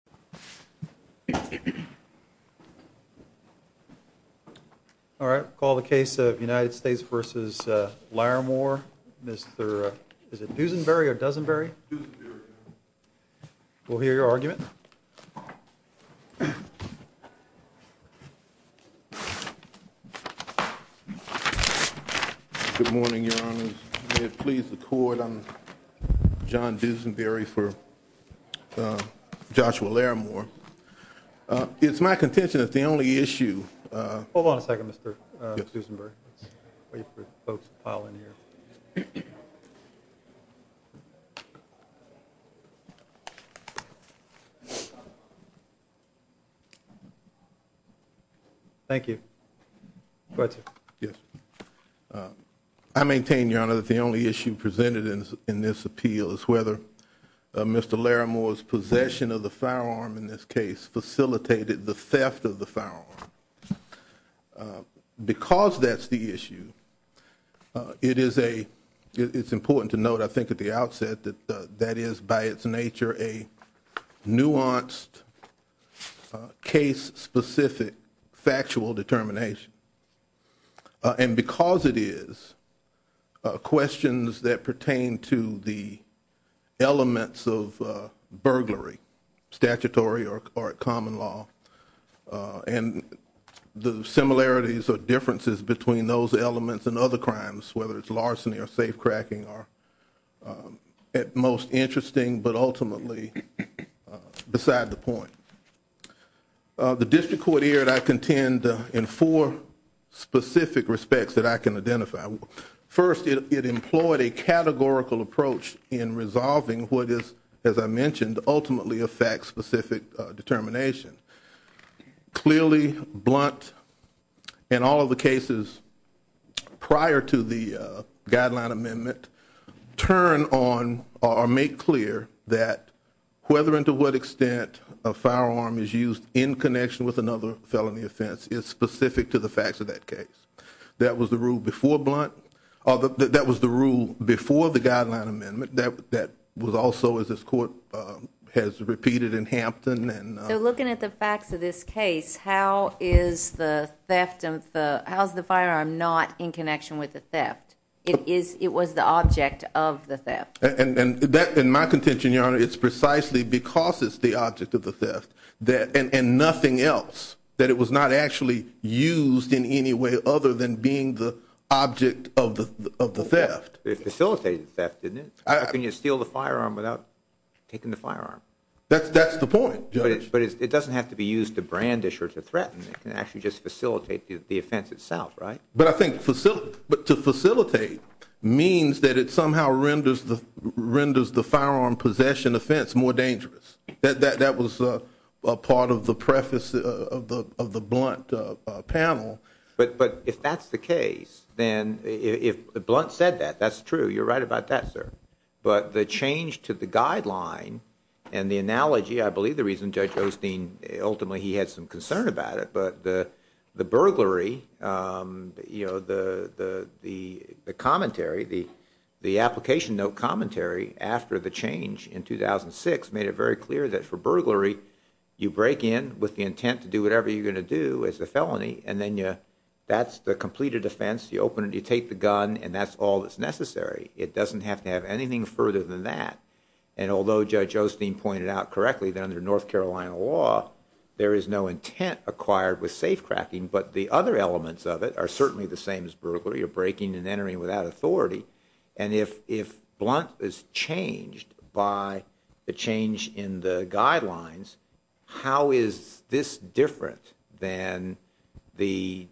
Good morning, Your Honors, may it please the Court, I'm John Duesenberry for Joshua Larrimore. It's my contention that the only issue... Hold on a second, Mr. Duesenberry. Thank you. Go ahead, sir. Yes. I maintain, Your Honor, that the only issue presented in this appeal is whether Mr. Larrimore's possession of the firearm in this case facilitated the theft of the firearm. Because that's the issue, it is a... It's important to note, I think, at the outset that that is by its nature a nuanced, case-specific, factual determination. And because it is, questions that pertain to the elements of burglary, statutory or common law, and the similarities or differences between those elements and other crimes, whether it's larceny or safe-cracking, are at most interesting, but ultimately beside the point. The District Court here, I contend, in four specific respects that I can identify. First, it employed a categorical approach in resolving what is, as I mentioned, ultimately a fact-specific determination. Clearly, blunt, and all of the cases prior to the guideline amendment turn on, or make clear, that whether and to what extent a firearm is used in connection with another felony offense is specific to the facts of that case. That was the rule before blunt, or that was the rule before the guideline amendment, that was also, as this Court has repeated in Hampton and... So looking at the facts of this case, how is the firearm not in connection with the theft? It was the object of the theft. And that, in my contention, Your Honor, it's precisely because it's the object of the theft, and nothing else, that it was not actually used in any way other than being the object of the theft. It facilitated the theft, didn't it? How can you steal the firearm without taking the firearm? That's the point, Judge. But it doesn't have to be used to brandish or to threaten. It can actually just facilitate the offense itself, right? But I think to facilitate means that it somehow renders the firearm possession offense more dangerous. That was a part of the preface of the blunt panel. But if that's the case, then if the blunt said that, that's true. You're right about that, sir. But the change to the guideline and the analogy, I believe the reason Judge Osteen, ultimately he had some concern about it, but the burglary, the commentary, the application note commentary after the change in 2006 made it very clear that for burglary, you break in with the intent to do whatever you're going to do as a felony, and then that's the completed offense. You open it, you take the gun, and that's all that's necessary. It doesn't have to have anything further than that. And although Judge Osteen pointed out correctly that under North Carolina law, there is no intent acquired with safe cracking, but the other elements of it are certainly the same as burglary or breaking and entering without authority. And if blunt is changed by the change in the guidelines, how is this different than the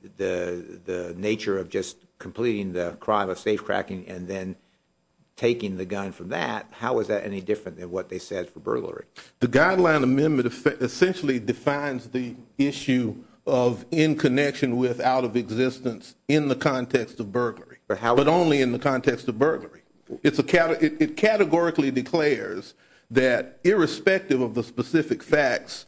gun from that? How is that any different than what they said for burglary? The guideline amendment essentially defines the issue of in connection with out of existence in the context of burglary, but only in the context of burglary. It categorically declares that irrespective of the specific facts,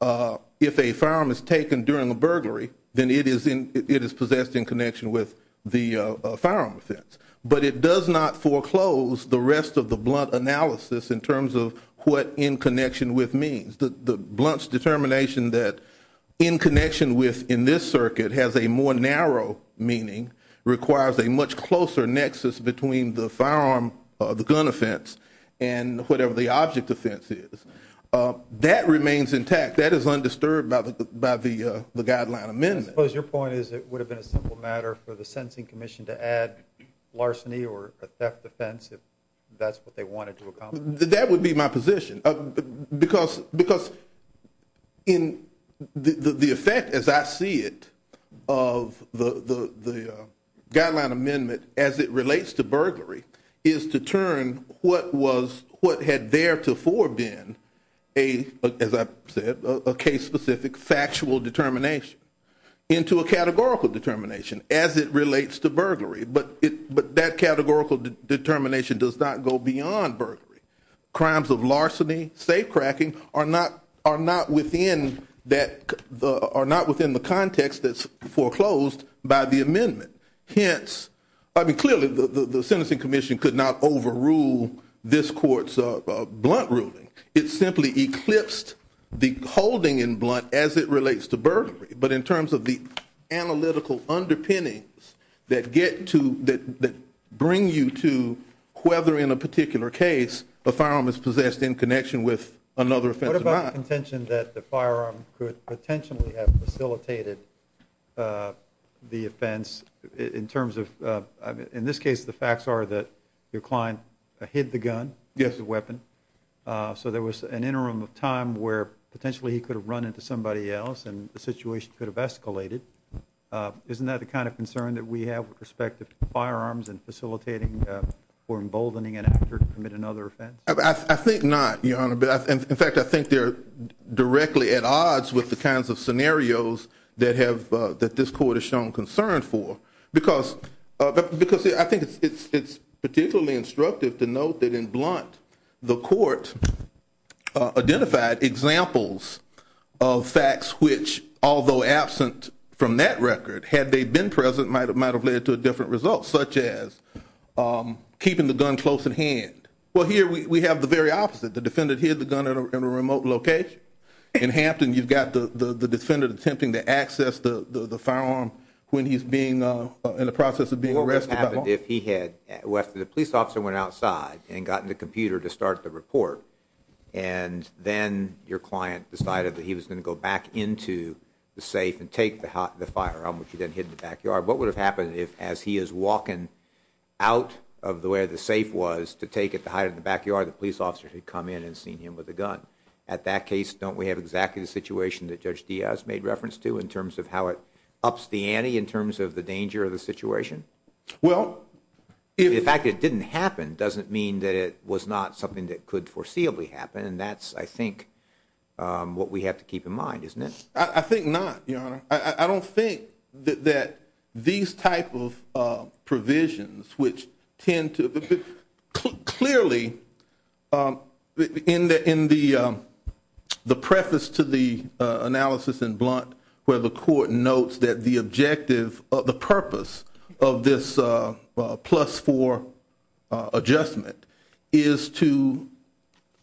if a firearm is taken during a burglary, then it is possessed in connection with the firearm offense. But it does not foreclose the rest of the blunt analysis in terms of what in connection with means. The blunt's determination that in connection with in this circuit has a more narrow meaning requires a much closer nexus between the firearm, the gun offense, and whatever the object offense is. That remains intact. That is undisturbed by the guideline amendment. I suppose your point is it would have been a simple matter for the sentencing commission to add larceny or a theft offense if that's what they wanted to accomplish. That would be my position. Because the effect as I see it of the guideline amendment as it relates to burglary is to turn what had theretofore been a, as I said, a case specific factual determination, into a categorical determination as it relates to burglary. But that categorical determination does not go beyond burglary. Crimes of larceny, safe cracking are not within the context that's foreclosed by the amendment. Hence, I mean clearly the sentencing commission could not overrule this court's blunt ruling. It simply eclipsed the as it relates to burglary. But in terms of the analytical underpinnings that get to, that bring you to whether in a particular case a firearm is possessed in connection with another offense or not. What about the contention that the firearm could potentially have facilitated the offense in terms of, in this case the facts are that your client hid the gun, the weapon. So there was an interim of time where potentially he could have run into somebody else and the situation could have escalated. Isn't that the kind of concern that we have with respect to firearms and facilitating or emboldening an actor to commit another offense? I think not, Your Honor. In fact, I think they're directly at odds with the kinds of scenarios that have, that this court has shown concern for. Because I think it's particularly instructive to note that in blunt, the court identified examples of facts which, although absent from that record, had they been present, might have led to a different result, such as keeping the gun close at hand. Well, here we have the very opposite. The defendant hid the gun in a remote location. In Hampton, you've got the defendant attempting to access the firearm when he's being, in the process of being arrested. What would have happened if he had, after the police officer went outside and got in the computer to start the report, and then your client decided that he was going to go back into the safe and take the firearm, which he then hid in the backyard, what would have happened if, as he is walking out of the way the safe was to take it to hide in the backyard, the police officer had come in and seen him with a gun? At that case, don't we have exactly the situation that Judge Diaz made reference to in terms of how it ups the ante in terms of the danger of the situation? The fact that it didn't happen doesn't mean that it was not something that could foreseeably happen, and that's, I think, what we have to keep in mind, isn't it? I think not, Your Honor. I don't think that these type of provisions, which tend to, clearly, in the preface to the analysis in Blunt where the court notes that the objective, the purpose of this plus four adjustment is to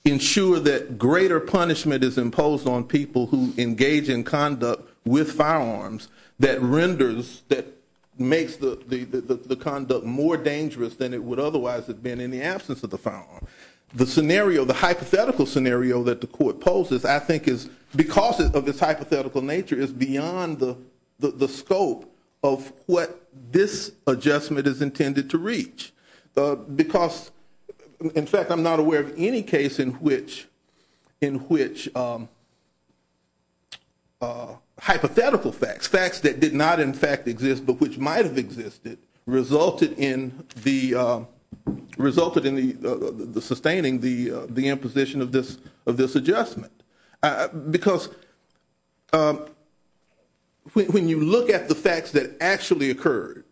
ensure that greater punishment is imposed on people who engage in conduct with firearms that renders, that makes the conduct more dangerous than it would otherwise have been in the absence of the firearm. The scenario, the hypothetical scenario that the court poses, I think is, because of its hypothetical nature, is beyond the scope of what this adjustment is intended to reach. Because, in fact, I'm not aware of any case in which hypothetical facts, facts that did not, in fact, exist, but which might have existed, resulted in sustaining the imposition of this adjustment. Because when you look at the facts that actually occurred,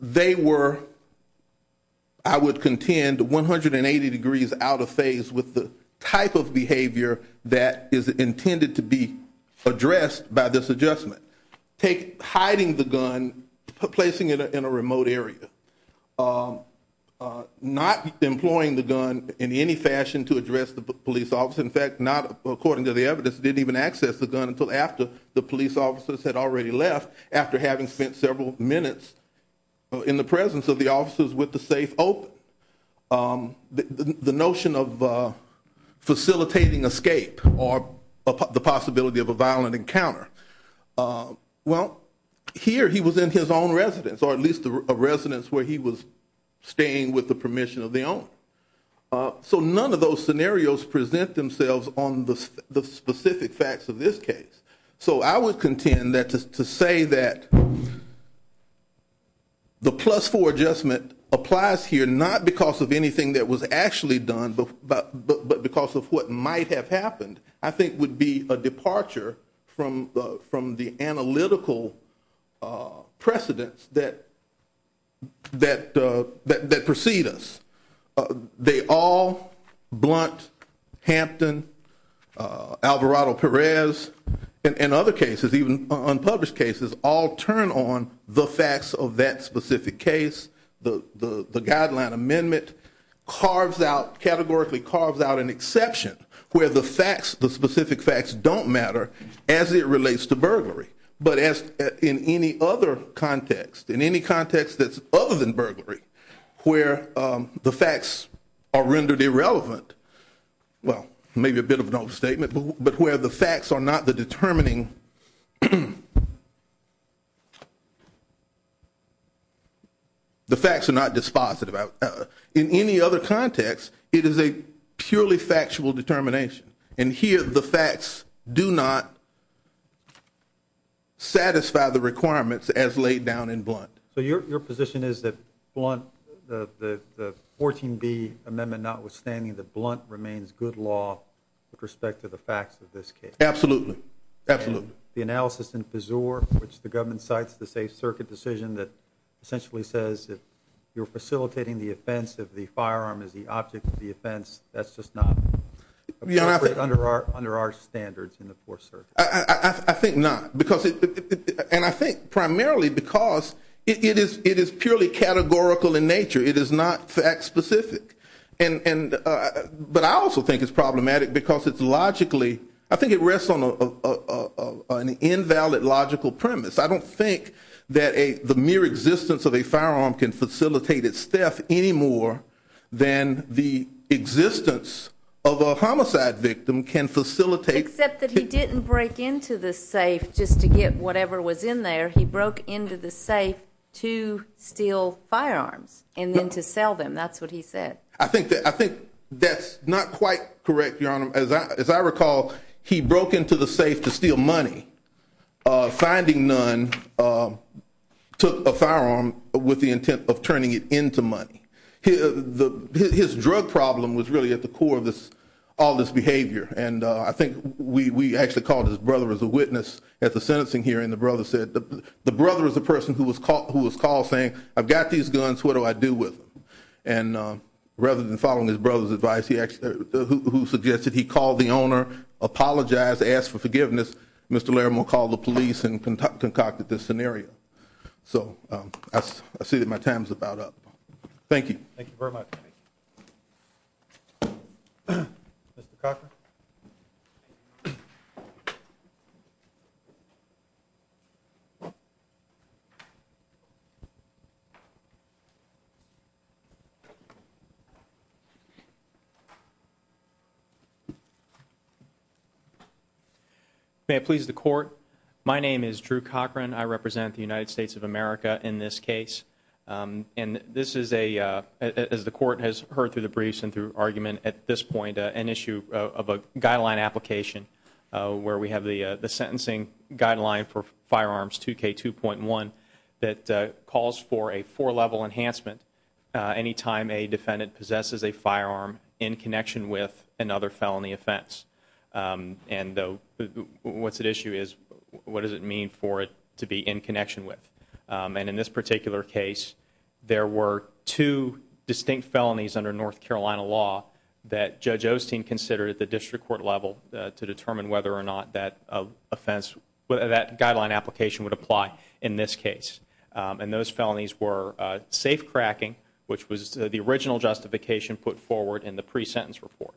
they were, I would contend, 180 degrees out of phase with the type of behavior that is intended to be addressed by this adjustment. Take hiding the gun, placing it in a remote area, not employing the gun in any fashion to address the police officer. In fact, not, according to the evidence, didn't even access the gun until after the police officers had already left after having spent several minutes in the presence of the officers with the safe open. The notion of facilitating escape or the possibility of a violent encounter. Well, here he was in his own residence, or at least a residence where he was staying with the young. So none of those scenarios present themselves on the specific facts of this case. So I would contend that to say that the plus-four adjustment applies here not because of anything that was actually done, but because of what might have happened, I think would be a departure from the analytical precedence that precede us. They all, Blunt, Hampton, Alvarado-Perez, and other cases, even unpublished cases, all turn on the facts of that specific case. The guideline amendment categorically carves out an exception where the facts, the specific facts, as it relates to burglary. But as in any other context, in any context that's other than burglary, where the facts are rendered irrelevant, well, maybe a bit of an overstatement, but where the facts are not the determining, the facts are not dispositive. In any other context, I don't satisfy the requirements as laid down in Blunt. So your position is that Blunt, the 14B amendment notwithstanding, that Blunt remains good law with respect to the facts of this case? Absolutely. Absolutely. The analysis in Fizur, which the government cites the safe circuit decision that essentially says that you're facilitating the offense if the firearm is the object of the offense, that's just not appropriate under our standards in the fourth circuit? I think not. And I think primarily because it is purely categorical in nature. It is not fact specific. But I also think it's problematic because it's logically, I think it rests on an invalid logical premise. I don't think that the mere existence of a firearm can facilitate its then the existence of a homicide victim can facilitate Except that he didn't break into the safe just to get whatever was in there. He broke into the safe to steal firearms and then to sell them. That's what he said. I think that's not quite correct, Your Honor. As I recall, he broke into the safe to steal money, finding none, took a firearm with the intent of turning it into money. His drug problem was really at the core of all this behavior. And I think we actually called his brother as a witness at the sentencing hearing. The brother said, the brother is a person who was called saying, I've got these guns, what do I do with them? And rather than following his brother's advice, who suggested he call the owner, apologize, ask for forgiveness, Mr. Laramore called the police and concocted this scenario. So I see that my time is about up. Thank you. Thank you very much. Mr. May I please the court? My name is Drew Cochran. I represent the United States of America in this case. And this is a, as the court has heard through the briefs and through argument at this point, an issue of a guideline application where we have the sentencing guideline for firearms 2k 2.1 that calls for a four level enhancement. Anytime a defendant possesses a firearm in issue is what does it mean for it to be in connection with? Um, and in this particular case, there were two distinct felonies under North Carolina law that judge Osteen considered at the district court level to determine whether or not that offense, whether that guideline application would apply in this case. Um, and those felonies were a safe cracking, which was the original justification put forward in the pre-sentence report,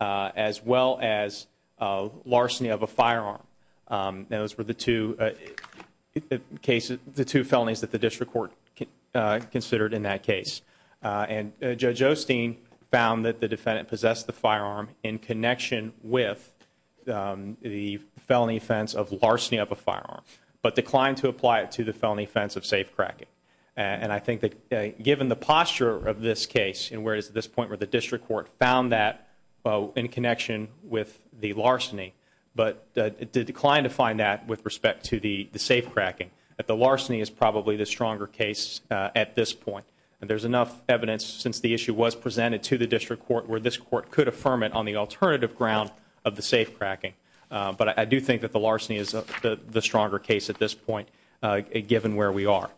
uh, as well as, uh, larceny of a firearm. Um, those were the two cases, the two felonies that the district court, uh, considered in that case. Uh, and judge Osteen found that the defendant possessed the firearm in connection with, um, the felony offense of larceny of a firearm, but declined to apply it to the felony offense of safe cracking. And I think that given the in connection with the larceny, but the decline to find that with respect to the safe cracking at the larceny is probably the stronger case at this point. And there's enough evidence since the issue was presented to the district court where this court could affirm it on the alternative ground of the safe cracking. Uh, but I do think that the larceny is the stronger case at this given where we are.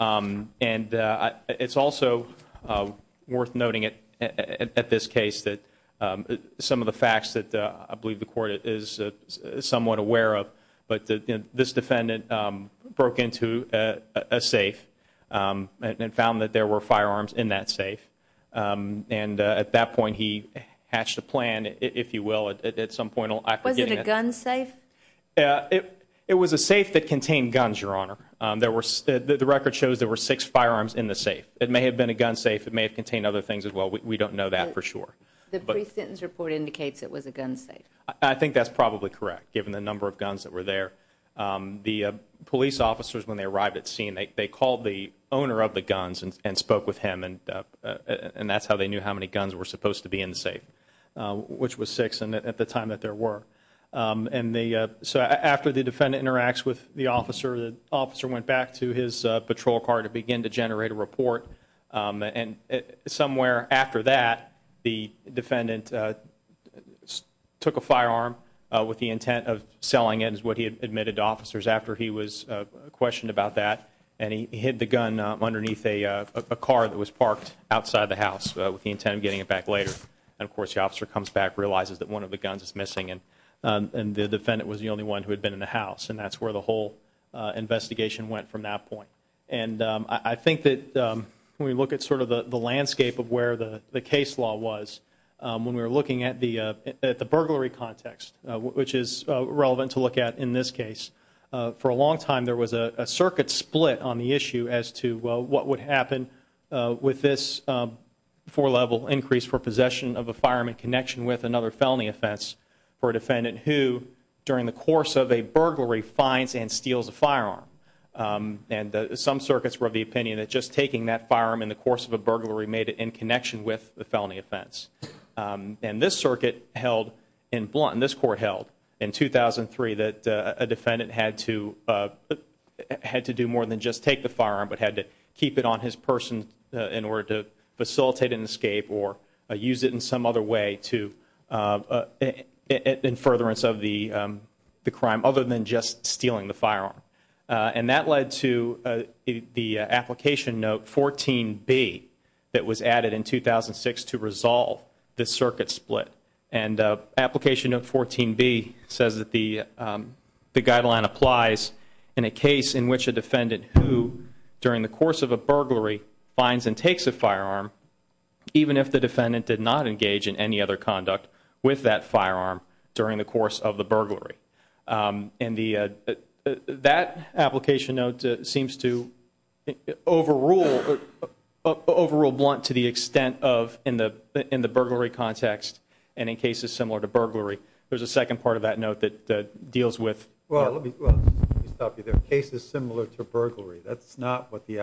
Um, and, uh, it's also, uh, worth noting it at this case that, um, some of the facts that, uh, I believe the court is somewhat aware of, but this defendant, um, broke into a safe, um, and found that there were firearms in that safe. Um, and at that point he hatched a were, the record shows there were six firearms in the safe. It may have been a gun safe. It may have contained other things as well. We don't know that for sure, but the sentence report indicates it was a gun safe. I think that's probably correct. Given the number of guns that were there, um, the police officers, when they arrived at scene, they called the owner of the guns and spoke with him. And, uh, and that's how they knew how many guns were supposed to be in the safe, uh, which was six. And at the time that there were, um, and the, uh, so after the defendant interacts with the officer, the officer went back to his, uh, patrol car to begin to generate a report. Um, and somewhere after that, the defendant, uh, took a firearm, uh, with the intent of selling it is what he had admitted to officers after he was, uh, questioned about that. And he hid the gun underneath a, uh, a car that was parked outside the house with the intent of getting it back later. And of course the officer comes back, realizes that one of the guns is And that's where the whole, uh, investigation went from that point. And, um, I think that, um, when we look at sort of the landscape of where the case law was, um, when we were looking at the, uh, at the burglary context, uh, which is relevant to look at in this case, uh, for a long time, there was a circuit split on the issue as to what would happen, uh, with this, um, four level increase for possession of a fireman connection with another felony offense for a defendant who during the course of a burglary finds and steals a firearm. Um, and some circuits were of the opinion that just taking that firearm in the course of a burglary made it in connection with the felony offense. Um, and this circuit held in blunt, in this court held in 2003 that a defendant had to, uh, had to do more than just take the firearm, but had to keep it on his person in order to facilitate an escape or use it in some other way to, uh, in furtherance of the, um, the crime other than just stealing the firearm. Uh, and that led to, uh, the application note 14 B that was added in 2006 to resolve the circuit split. And, uh, application of 14 B says that the, um, the guideline applies in a case in which a defendant who during the course of a burglary finds and takes a firearm, even if the defendant did not engage in any other conduct with that firearm during the course of the burglary. Um, and the, uh, that application note seems to overrule, overrule blunt to the extent of in the, in the burglary context. And in cases similar to burglary, there's a second part of that note that deals with, well, let me stop you there. Cases similar to burglary. That's not what the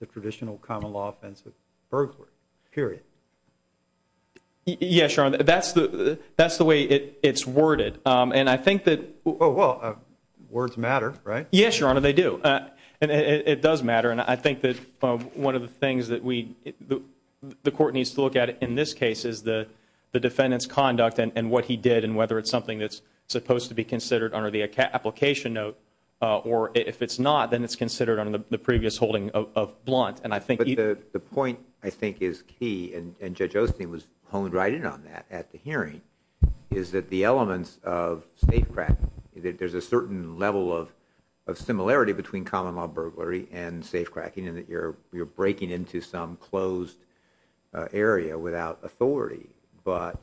the traditional common law offense with burglary period. Yeah, sure. And that's the, that's the way it it's worded. Um, and I think that, oh, well, uh, words matter, right? Yes, Your Honor. They do. Uh, and it does matter. And I think that, uh, one of the things that we, the court needs to look at in this case is the, the defendant's conduct and what he did and whether it's something that's supposed to be considered under the application note, uh, or if it's not, then it's considered under the previous holding of, of blunt. And I think the, the point I think is key and Judge Osteen was honed right in on that at the hearing is that the elements of safe cracking, there's a certain level of, of similarity between common law burglary and safe cracking and that you're, you're breaking into some closed, uh, area without authority. But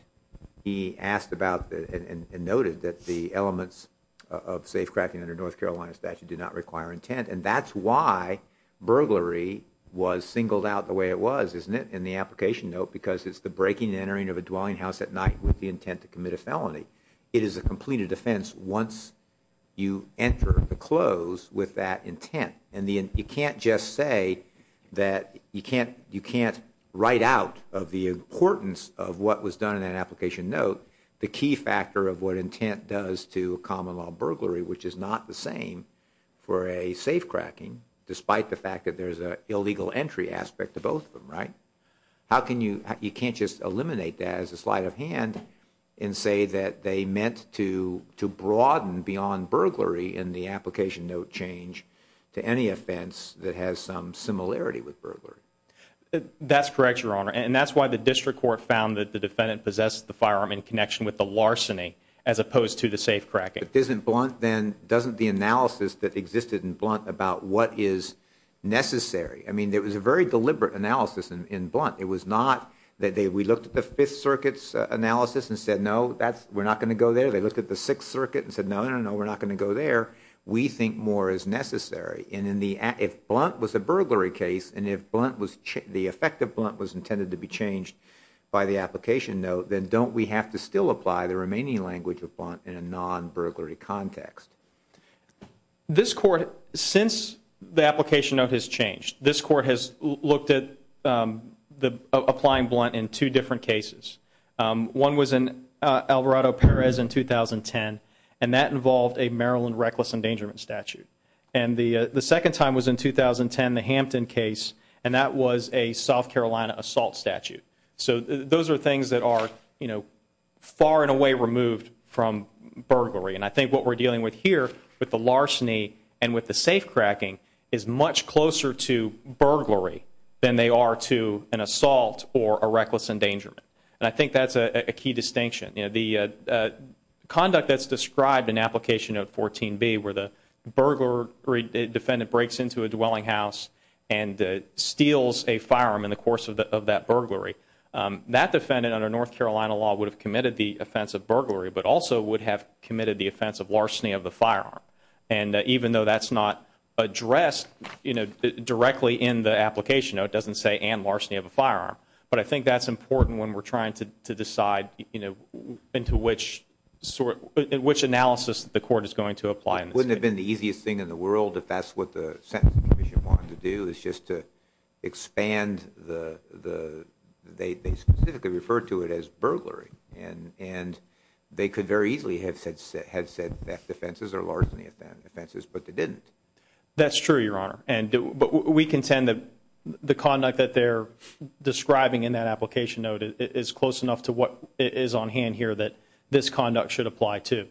he asked about the, and noted that the elements of safe cracking under North Carolina statute do not require intent. And that's why burglary was singled out the way it was, isn't it? In the application note, because it's the breaking and entering of a dwelling house at night with the intent to commit a felony. It is a completed offense. Once you enter the close with that intent and the, and you can't just say that you can't, you can't write out of the importance of what was done in that application note, the key factor of what intent does to common law burglary, which is not the same for a safe cracking, despite the fact that there's a illegal entry aspect to both of them, right? How can you, you can't just eliminate that as a sleight of hand and say that they meant to, to broaden beyond burglary in the application note change to any offense that has some similarity with burglary. That's correct, your honor. And that's why the district court found that the defendant possessed the firearm in connection with the doesn't the analysis that existed in blunt about what is necessary. I mean, there was a very deliberate analysis in blunt. It was not that they, we looked at the fifth circuits analysis and said, no, that's, we're not going to go there. They looked at the sixth circuit and said, no, no, no, no, no. We're not going to go there. We think more is necessary. And in the, if blunt was a burglary case and if blunt was the effective blunt was intended to be changed by the application note, then don't we have to still apply the remaining language of non-burglary context? This court, since the application of his changed, this court has looked at, um, the applying blunt in two different cases. Um, one was in, uh, Alvarado Perez in 2010 and that involved a Maryland reckless endangerment statute. And the, uh, the second time was in 2010, the Hampton case, and that was a South Carolina assault statute. So those are things that are, you know, far and away removed from burglary. And I think what we're dealing with here with the larceny and with the safe cracking is much closer to burglary than they are to an assault or a reckless endangerment. And I think that's a key distinction. You know, the, uh, uh, conduct that's described in application of 14 B where the burglar defendant breaks into a dwelling house and, uh, steals a firearm in the course of the, of that burglary, um, that defendant under North Carolina law would have committed the offense of burglary, but also would have committed the offense of larceny of the firearm. And, uh, even though that's not addressed, you know, directly in the application, it doesn't say and larceny of a firearm, but I think that's important when we're trying to, to decide, you know, into which sort of, which analysis the court is going to apply. Wouldn't have been the easiest thing in the world if that's what the sentencing commission wanted to do is just to expand the, the, they, they specifically referred to it as burglary and, and they could very easily have said, have said that defenses are larceny offenses, but they didn't. That's true, your honor. And we contend that the conduct that they're describing in that application note is close enough to what is on hand here that this conduct should apply to.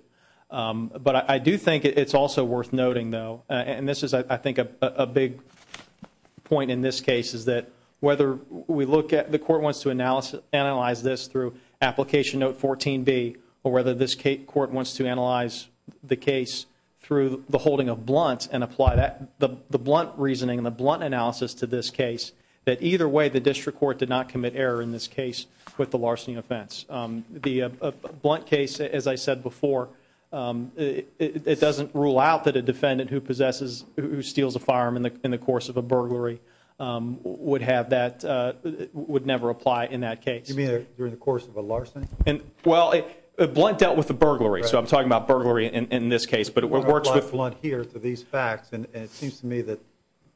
Um, but I do think it's also worth noting though, and this is, I think a big point in this case is that whether we look at the court wants to analysis, analyze this through application note 14 B or whether this court wants to analyze the case through the holding of blunt and apply that the blunt reasoning and the blunt analysis to this case, that either way, the district court did not commit error in this case with the larceny offense. Um, the, uh, blunt case, as I said before, um, it, it doesn't rule out that a defendant who possesses, who steals a firearm in the, in the course of a burglary, um, would have that, uh, would never apply in that case during the course of a larceny. And well, it blunt dealt with the burglary. So I'm talking about burglary in this case, but it works with blunt here to these facts. And it seems to me that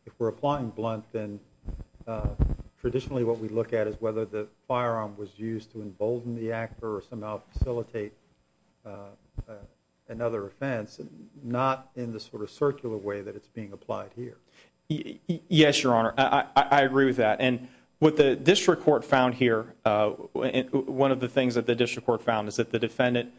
if we're applying blunt, then, uh, traditionally what we look at is whether the firearm was used to embolden the actor or somehow facilitate, uh, uh, another offense, not in the sort of circular way that it's being applied here. Yes, Your Honor. I agree with that. And what the district court found here, uh, one of the things that the district court found is that the defendant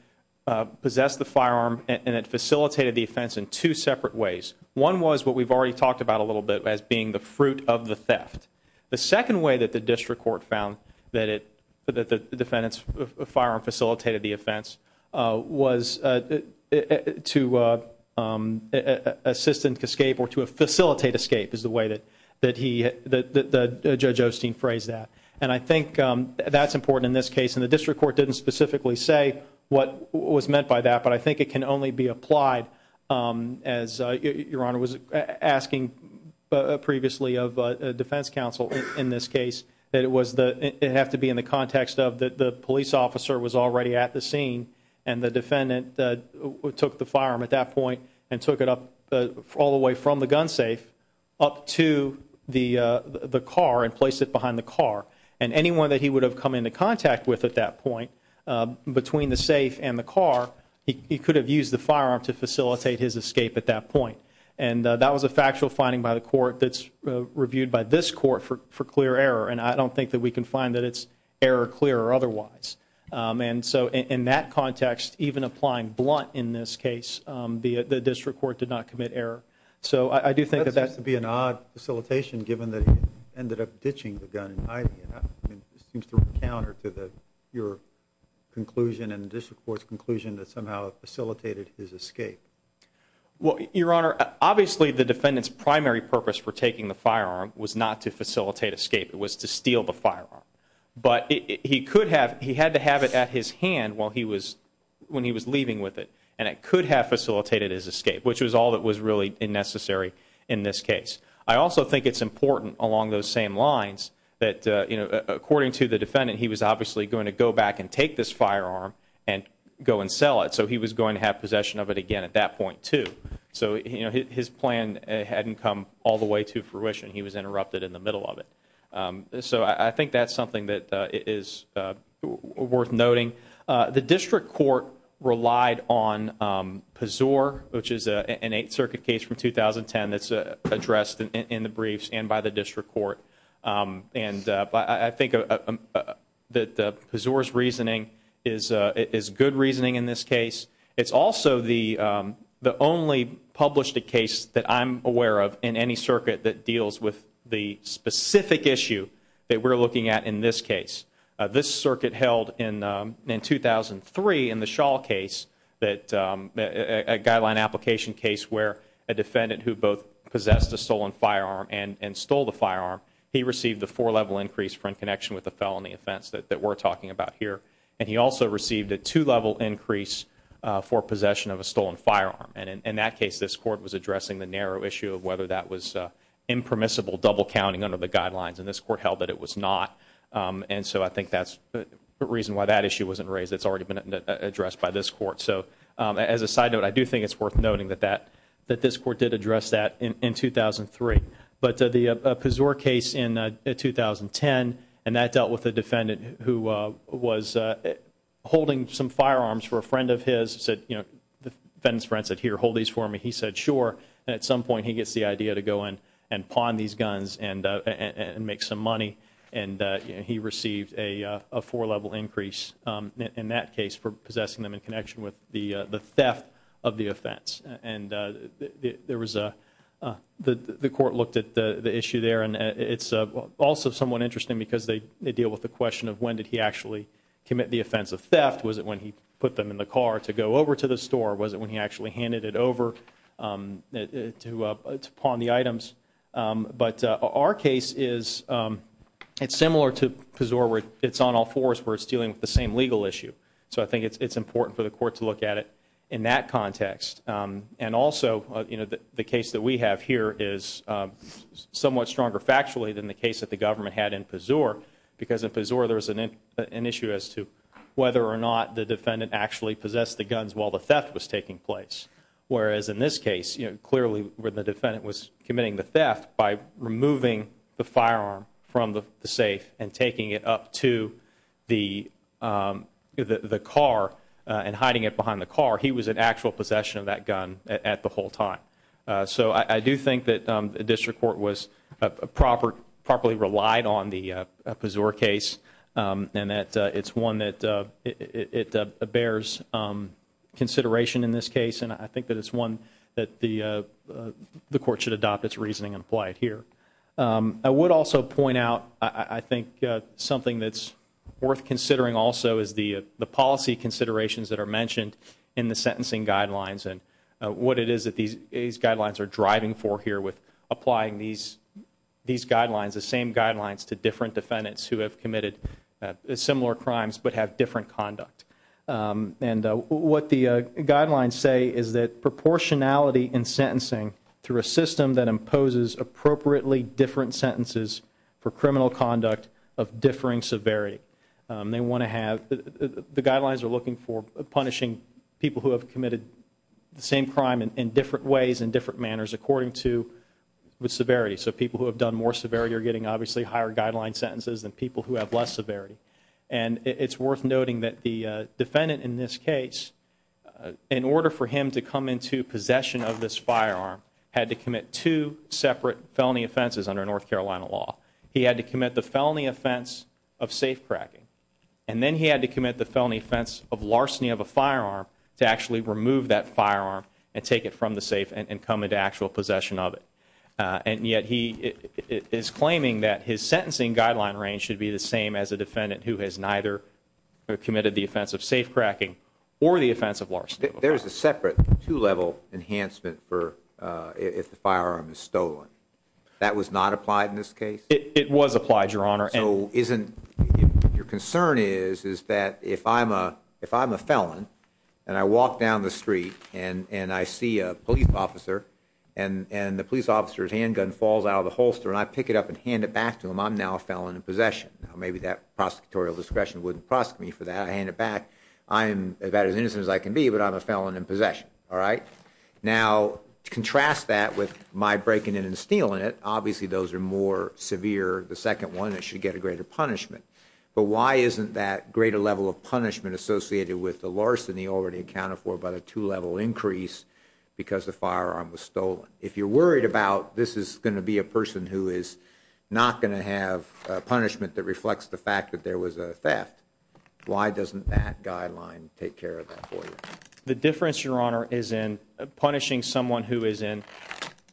possessed the firearm and it facilitated the offense in two separate ways. One was what we've already talked about a little bit as being the fruit of the theft. The second way that the district court found that it, that the defendant's firearm facilitated the offense, uh, was, uh, to, uh, um, uh, assistant escape or to a facilitate escape is the way that, that he, that the judge Osteen phrase that. And I think, um, that's important in this case. And the district court didn't specifically say what was meant by that, but I think it can only be applied, um, as, uh, your Honor was asking previously of a defense counsel in this case that it was the, it have to be in the context of the police officer was already at the scene and the defendant that took the firearm at that point and took it up all the way from the gun safe up to the, uh, the car and place it behind the car. And anyone that he would have come into contact with at that point, uh, between the safe and the car, he could have used the firearm to facilitate his escape at that point. And that was a factual finding by the court that's reviewed by this court for, for clear error. And I don't think that we can find that it's error clear or otherwise. Um, and so in that context, even applying blunt in this case, um, the, the district court did not commit error. So I do think that that's going to be an odd facilitation given that he ended up ditching the gun and hiding it. I mean, it seems to counter to the, your conclusion and the district court's conclusion that somehow facilitated his escape. Well, your Honor, obviously the defendant's primary purpose for taking the firearm was not to facilitate escape. It was to steal the firearm, but he could have, he had to have it at his hand while he was, when he was leaving with it and it could have facilitated his escape, which was all that was really unnecessary in this case. I also think it's important along those same lines that, uh, you know, according to the defendant, he was obviously going to go back and take this firearm and go and sell it. So he was going to have he was interrupted in the middle of it. Um, so I think that's something that, uh, is, uh, worth noting. Uh, the district court relied on, um, Pazur, which is a, an Eighth Circuit case from 2010 that's, uh, addressed in the briefs and by the district court. Um, and, uh, I think, that, uh, Pazur's reasoning is, uh, is good reasoning in this case. It's also the, um, the only published a case that I'm aware of in any circuit that deals with the specific issue that we're looking at in this case. Uh, this circuit held in, um, in 2003 in the Shaw case that, um, a guideline application case where a defendant who both possessed a stolen firearm and, and stole the firearm, he received the four level increase for in connection with the felony offense that, that we're talking about here. And he also received a two level increase, uh, for possession of a stolen firearm. And in, in that case, this court was addressing the narrow issue of whether that was, uh, impermissible double counting under the guidelines. And this court held that it was not. Um, and so I think that's the reason why that issue wasn't raised. It's already been addressed by this court. So, um, as a side note, I do think it's worth noting that, that, that this court did address that in, in 2003. But, uh, the, uh, Pazur case in, uh, 2010, and that dealt with a defendant who, uh, was, uh, holding some firearms for a friend of his said, you know, the friend's friend said, here, hold these for me. He said, sure. And at some point he gets the idea to go in and pawn these guns and, uh, and make some money. And, uh, he received a, uh, a four level increase, um, in that case for possessing them in connection with the, uh, the theft of the offense. And, uh, there was a, uh, the, the court looked at the, the issue there and, uh, it's, uh, also somewhat interesting because they, they deal with the question of when did he actually commit the offense of theft. Was it when he put them in the car to go over to the store? Was it when he actually handed it over, um, to, uh, to pawn the items? Um, but, uh, our case is, um, it's similar to Pazur where it's on all fours where it's dealing with the same legal issue. So I think it's, it's important for the court to look at it in that context. Um, and also, uh, you know, the case that we have here is, um, somewhat stronger factually than the case that the government had in Pazur because in Pazur there was an issue as to whether or not the defendant actually possessed the guns while the theft was taking place. Whereas in this case, you know, clearly when the defendant was committing the theft by removing the firearm from the safe and taking it up to the, um, the car and hiding it in the car, he was in actual possession of that gun at the whole time. Uh, so I, I do think that, um, the district court was, uh, proper, properly relied on the, uh, Pazur case, um, and that, uh, it's one that, uh, it, it, uh, bears, um, consideration in this case and I think that it's one that the, uh, the court should adopt its reasoning and apply it here. Um, I would also point out, I, I think, uh, something that's worth considering also is the, uh, the policy considerations that are mentioned in the sentencing guidelines and, uh, what it is that these, these guidelines are driving for here with applying these, these guidelines, the same guidelines to different defendants who have committed, uh, similar crimes but have different conduct. Um, and, uh, what the, uh, guidelines say is that proportionality in sentencing through a system that imposes appropriately different sentences for criminal conduct of differing severity. Um, they want to have, the, the, the guidelines are looking for punishing people who have committed the same crime in, in different ways, in different manners according to the severity. So people who have done more severity are getting obviously higher guideline sentences than people who have less severity. And it, it's worth noting that the, uh, defendant in this case, uh, in order for him to come into possession of this firearm had to commit two separate felony offenses under North Carolina law. He had to commit the felony offense of safe cracking, and then he had to commit the felony offense of larceny of a firearm to actually remove that firearm and take it from the safe and come into actual possession of it. Uh, and yet he is claiming that his sentencing guideline range should be the same as a defendant who has neither committed the offense of safe cracking or the offense of larceny. There is a separate two level enhancement for, uh, if the firearm is stolen, that was not applied in this case. It was applied your honor. So isn't your concern is, is that if I'm a, if I'm a felon and I walk down the street and, and I see a police officer and, and the police officer's handgun falls out of the holster and I pick it up and hand it back to him, I'm now a felon in possession. Now maybe that prosecutorial discretion wouldn't prosecute me for that. I hand it back. I am about as innocent as I can be, but I'm a felon in possession. All right. Now contrast that with my breaking in and stealing it. Obviously those are more severe. The second one that should get a greater punishment, but why isn't that greater level of punishment associated with the larceny already accounted for by the two level increase because the firearm was stolen. If you're worried about this is going to be a person who is not going to have a punishment that reflects the fact that there was a theft. Why doesn't that guideline take care of that for you? The difference your honor is in punishing someone who is in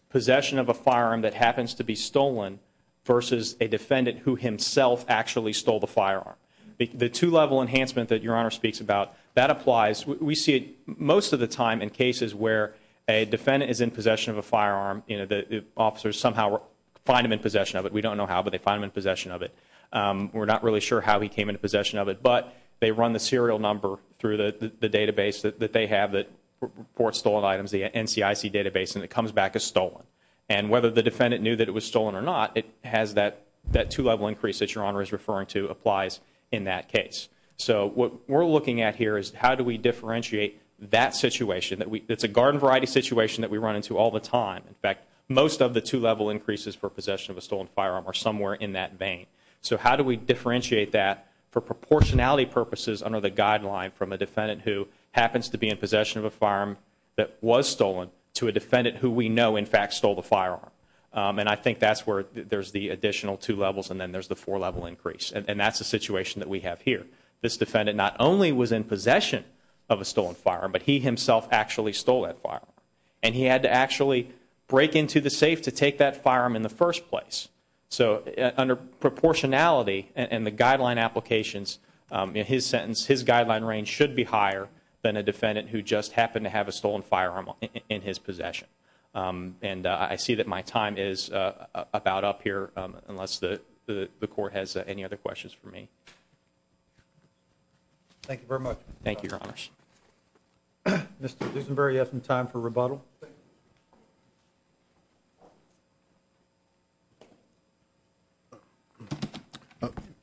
possession of a firearm that happens to be stolen versus a defendant who himself actually stole the firearm. The two level enhancement that your honor speaks about that applies. We see it most of the time in cases where a defendant is in possession of a firearm, you know, the officers somehow find them in possession of it. We don't know how, but they find them in possession of it. Um, we're not really sure how he came into possession of it, but they run the serial number through the database that they have that reports stolen items, the NCIC database, and it comes back as stolen and whether the defendant knew that it was stolen or not, it has that, that two level increase that your honor is referring to applies in that case. So what we're looking at here is how do we differentiate that situation that we, it's a garden variety situation that we run into all the time. In fact, most of the two level increases for possession of a stolen firearm or somewhere in that vein. So how do we differentiate that for proportionality purposes under the guideline from a defendant who happens to be in possession of a firearm that was stolen to a defendant who we know in fact stole the firearm? Um, and I think that's where there's the additional two levels and then there's the four level increase. And that's the situation that we have here. This defendant not only was in possession of a stolen firearm, but he himself actually stole that firearm and he had to actually break into the safe to take that firearm in the first place. So under proportionality and the guideline applications, um, in his sentence, his guideline range should be higher than a defendant who just happened to have a stolen firearm in his possession. Um, and I see that my time is, uh, about up here, um, unless the, the, the court has any other questions for me. Thank you very much. Thank you, your honors. Mr. Duesenberry, you have some time for rebuttal.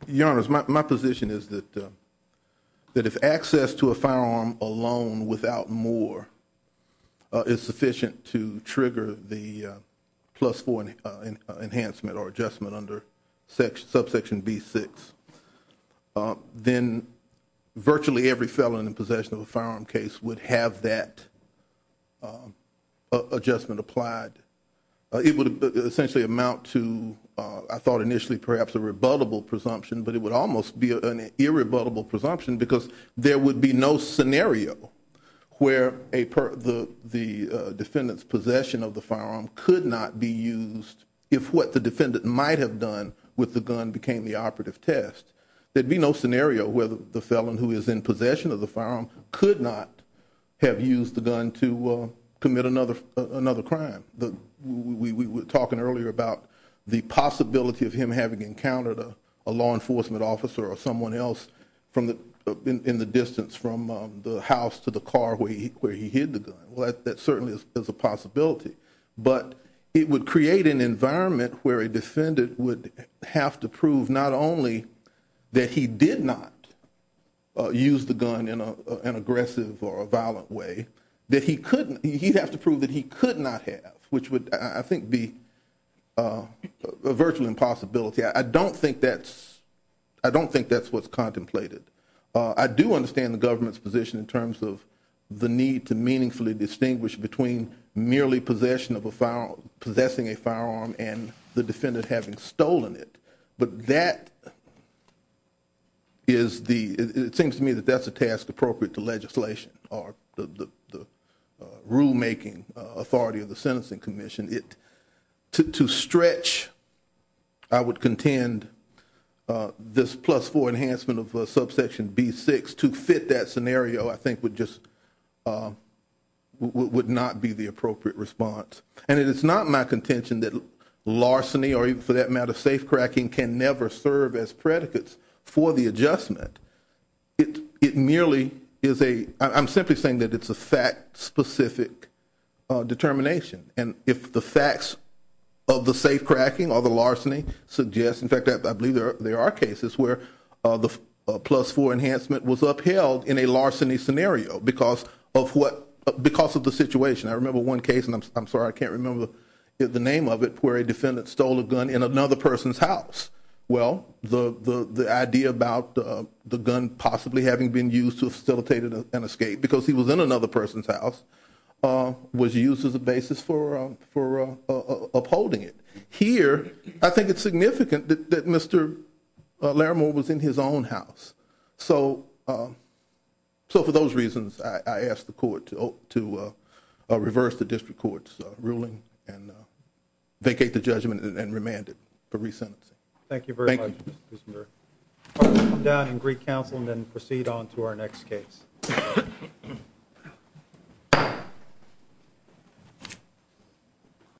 Your honors. My, my position is that, uh, that if access to a firearm alone without more, uh, is sufficient to trigger the plus four enhancement or adjustment under section subsection B six, uh, then virtually every felon in possession of a firearm case would have that, um, uh, adjustment applied. Uh, it would essentially amount to, uh, I thought initially perhaps a rebuttable presumption, but it would almost be an irrebuttable presumption because there would be no scenario where a per the, the, uh, defendant's possession of the firearm could not be used. If what the defendant might have done with the gun became the operative test, there'd be no scenario where the felon who is in possession of the firearm could not have used the gun to, uh, commit another, uh, another crime. The, we, we were talking earlier about the possibility of him having encountered a, a law enforcement officer or someone else from the, uh, in, in the distance from, um, the house to the car where he, where he hid the gun. Well, that, that certainly is a possibility, but it would create an environment where a defendant would have to prove not only that he did not, uh, use the gun in a, an aggressive or a violent way that he couldn't, he'd have to prove that he could not have, which would I think be, uh, a virtual impossibility. I don't think that's, I don't think that's what's contemplated. Uh, I do understand the government's position in terms of the need to meaningfully distinguish between merely possession of a firearm, possessing a firearm and the defendant having stolen it. But that is the, it seems to me that that's a task appropriate to legislation or the, the, uh, rulemaking, uh, authority of the sentencing commission. It to, to stretch, I would contend, uh, this plus four enhancement of a subsection B six to fit that scenario I think would just, uh, w would not be the kind of contention that larceny or even for that matter, safe cracking can never serve as predicates for the adjustment. It, it merely is a, I'm simply saying that it's a fact specific determination and if the facts of the safe cracking or the larceny suggests, in fact, I believe there are cases where, uh, the plus four enhancement was upheld in a larceny scenario because of what, because of the situation. I remember one case and I'm sorry, I can't remember the name of it where a defendant stole a gun in another person's house. Well, the, the, the idea about, uh, the gun possibly having been used to facilitate an escape because he was in another person's house, uh, was used as a basis for, uh, for, uh, uh, upholding it here. I think it's significant that, that Mr Laramore was in his own house. So, um, so for those reasons, I asked the court to, to, uh, uh, reverse the district court's ruling and, uh, vacate the judgment and remanded for resentencing. Thank you very much down in Greek council and then proceed on to our next case.